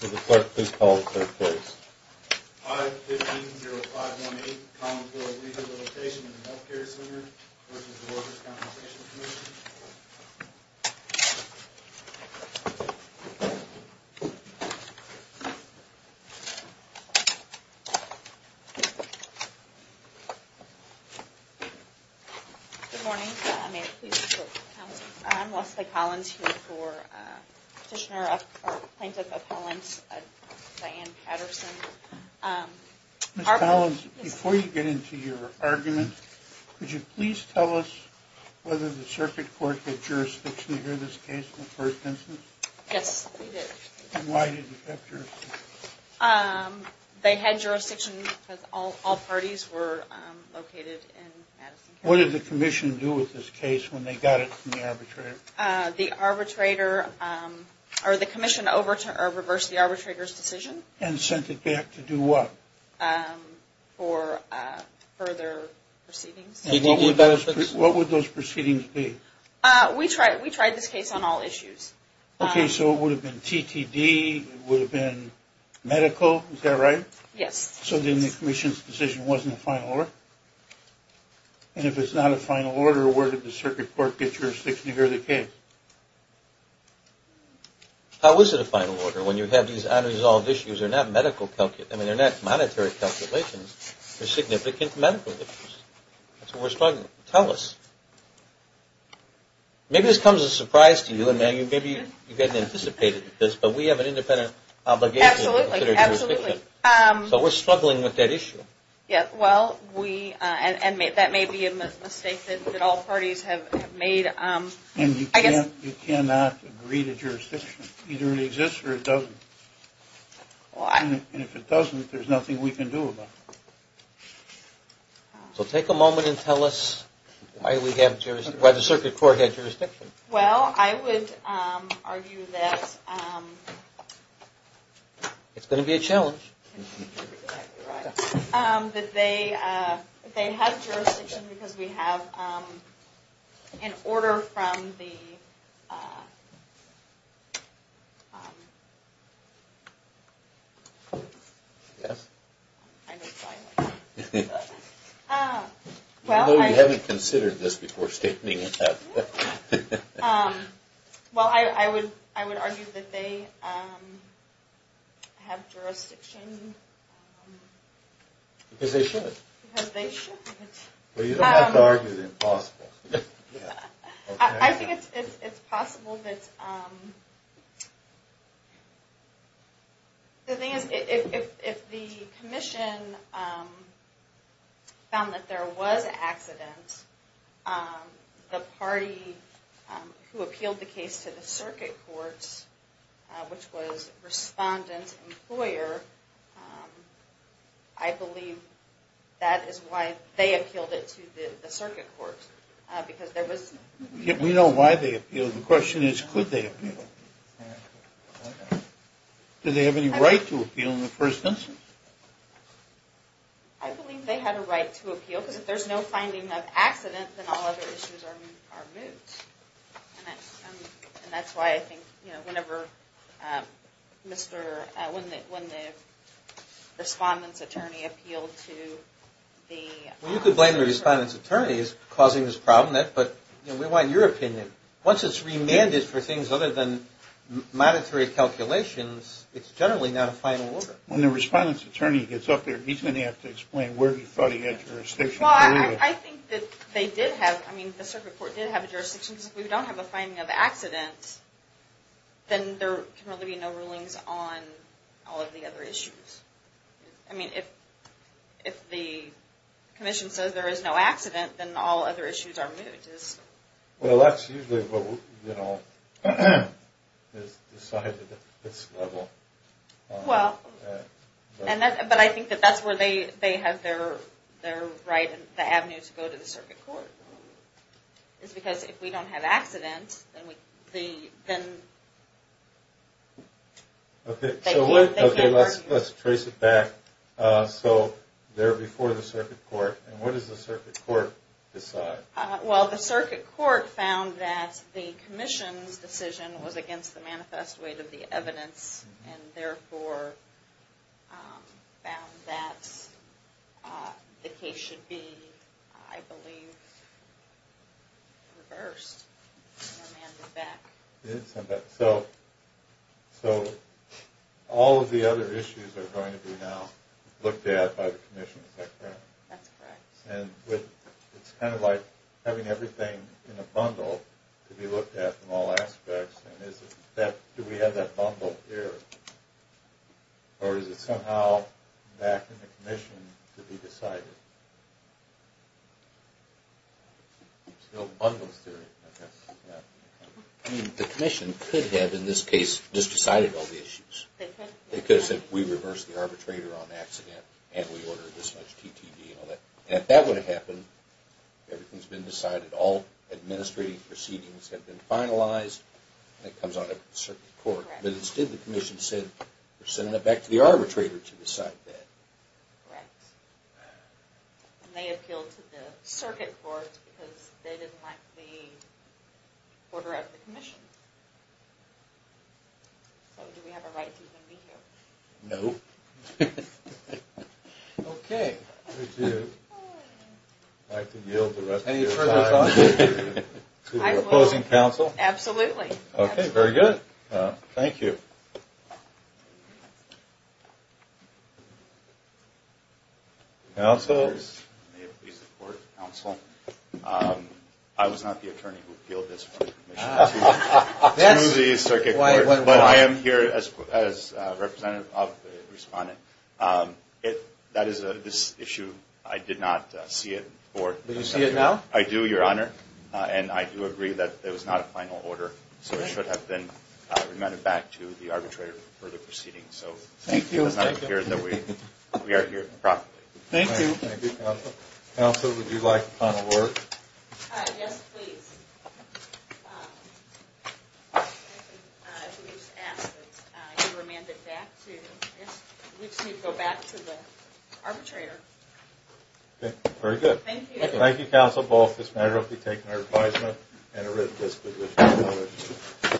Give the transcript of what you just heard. Good morning. I'm Leslie Collins, here for Petitioner, or Plaintiff, of Hollinsburg, Diane Patterson. Ms. Collins, before you get into your argument, could you please tell us whether the Circuit Court had jurisdiction to hear this case in the first instance? Yes, we did. And why did it have jurisdiction? They had jurisdiction because all parties were located in Madison County. What did the Commission do with this case when they got it from the arbitrator? The Commission reversed the arbitrator's decision. And sent it back to do what? For further proceedings. And what would those proceedings be? We tried this case on all issues. Okay, so it would have been TTD, it would have been medical, is that right? Yes. So then the Commission's decision wasn't a final order? And if it's not a final order, where did the Circuit Court get jurisdiction to hear the case? How is it a final order when you have these unresolved issues? They're not monetary calculations. They're significant medical issues. That's what we're struggling with. Tell us. Maybe this comes as a surprise to you, and maybe you didn't anticipate this, but we have an independent obligation to consider dealing with that issue. Yes, well, that may be a mistake that all parties have made. And you cannot agree to jurisdiction. Either it exists or it doesn't. And if it doesn't, there's nothing we can do about it. So take a moment and tell us why the Circuit Court got jurisdiction. Well, I would argue that... It's going to be a challenge. That they have jurisdiction because we have an order from the... Well, I... Although we haven't considered this before stating that. Well, I would argue that they have jurisdiction. Because they should. Because they should. Well, you don't have to argue the impossible. I think it's possible that... The thing is, if the Commission found that there was an accident, the party who appealed the case to the Circuit Court, which was Respondent Employer, I believe that is why they appealed it to the Circuit Court. Because there was... We know why they appealed. The question is, could they appeal? Do they have any right to appeal in the first instance? I believe they had a right to appeal. Because if there's no finding of accident, then all other issues are moved. And that's why I think, you know, whenever Mr... When the Respondent's attorney is causing this problem, but we want your opinion. Once it's remanded for things other than monetary calculations, it's generally not a final order. When the Respondent's attorney gets up there, he's going to have to explain where he thought he had jurisdiction. Well, I think that they did have... I mean, the Circuit Court did have a jurisdiction. Because if we don't have a finding of accident, then there can really be no rulings on all of the other issues. I mean, if the Commission says there is no accident, then all other issues are moved. Well, that's usually what, you know, is decided at this level. Well, but I think that that's where they have their right and the avenue to go to the Circuit Court. It's because if we don't have accident, then... Okay, let's trace it back. So, they're before the Circuit Court, and what does the Circuit Court decide? Well, the Circuit Court found that the Commission's decision was against the manifest weight of the evidence, and therefore found that the case should be, I believe, reversed. So, all of the other issues are going to be now looked at by the Commission, is that correct? That's correct. And it's kind of like having everything in a bundle to be looked at in all aspects. Do we have that bundle here, or is it somehow back in the Commission to be decided? There's no bundles to it. I mean, the Commission could have, in this case, just decided all the issues. They could have said, we reversed the arbitrator on accident, and we ordered this much TTD and all that. And if that would have happened, everything's been decided, all administrative proceedings have been finalized, and it comes on the Circuit Court. But instead, the Commission said, we're sending it back to the arbitrator to decide that. Correct. And they appealed to the Circuit Court because they didn't like the order of the Commission. So, do we have a right to even be here? No. Okay. Would you like to yield the rest of your time to the opposing counsel? Absolutely. Okay, very good. Thank you. May it please the Court of Counsel, I was not the attorney who appealed this to the respondent. That is this issue. I did not see it before. Do you see it now? I do, Your Honor. And I do agree that it was not a final order, so it should have been remanded back to the arbitrator for further proceedings. Thank you. So, it does not appear that we are here improperly. Thank you. Thank you, Counsel. Counsel, would you like a final word? Yes, please. If you would just ask that it be remanded back to the arbitrator. Okay, very good. Thank you. Thank you, Counsel. Both this matter will be taken under advisement and a written disposition.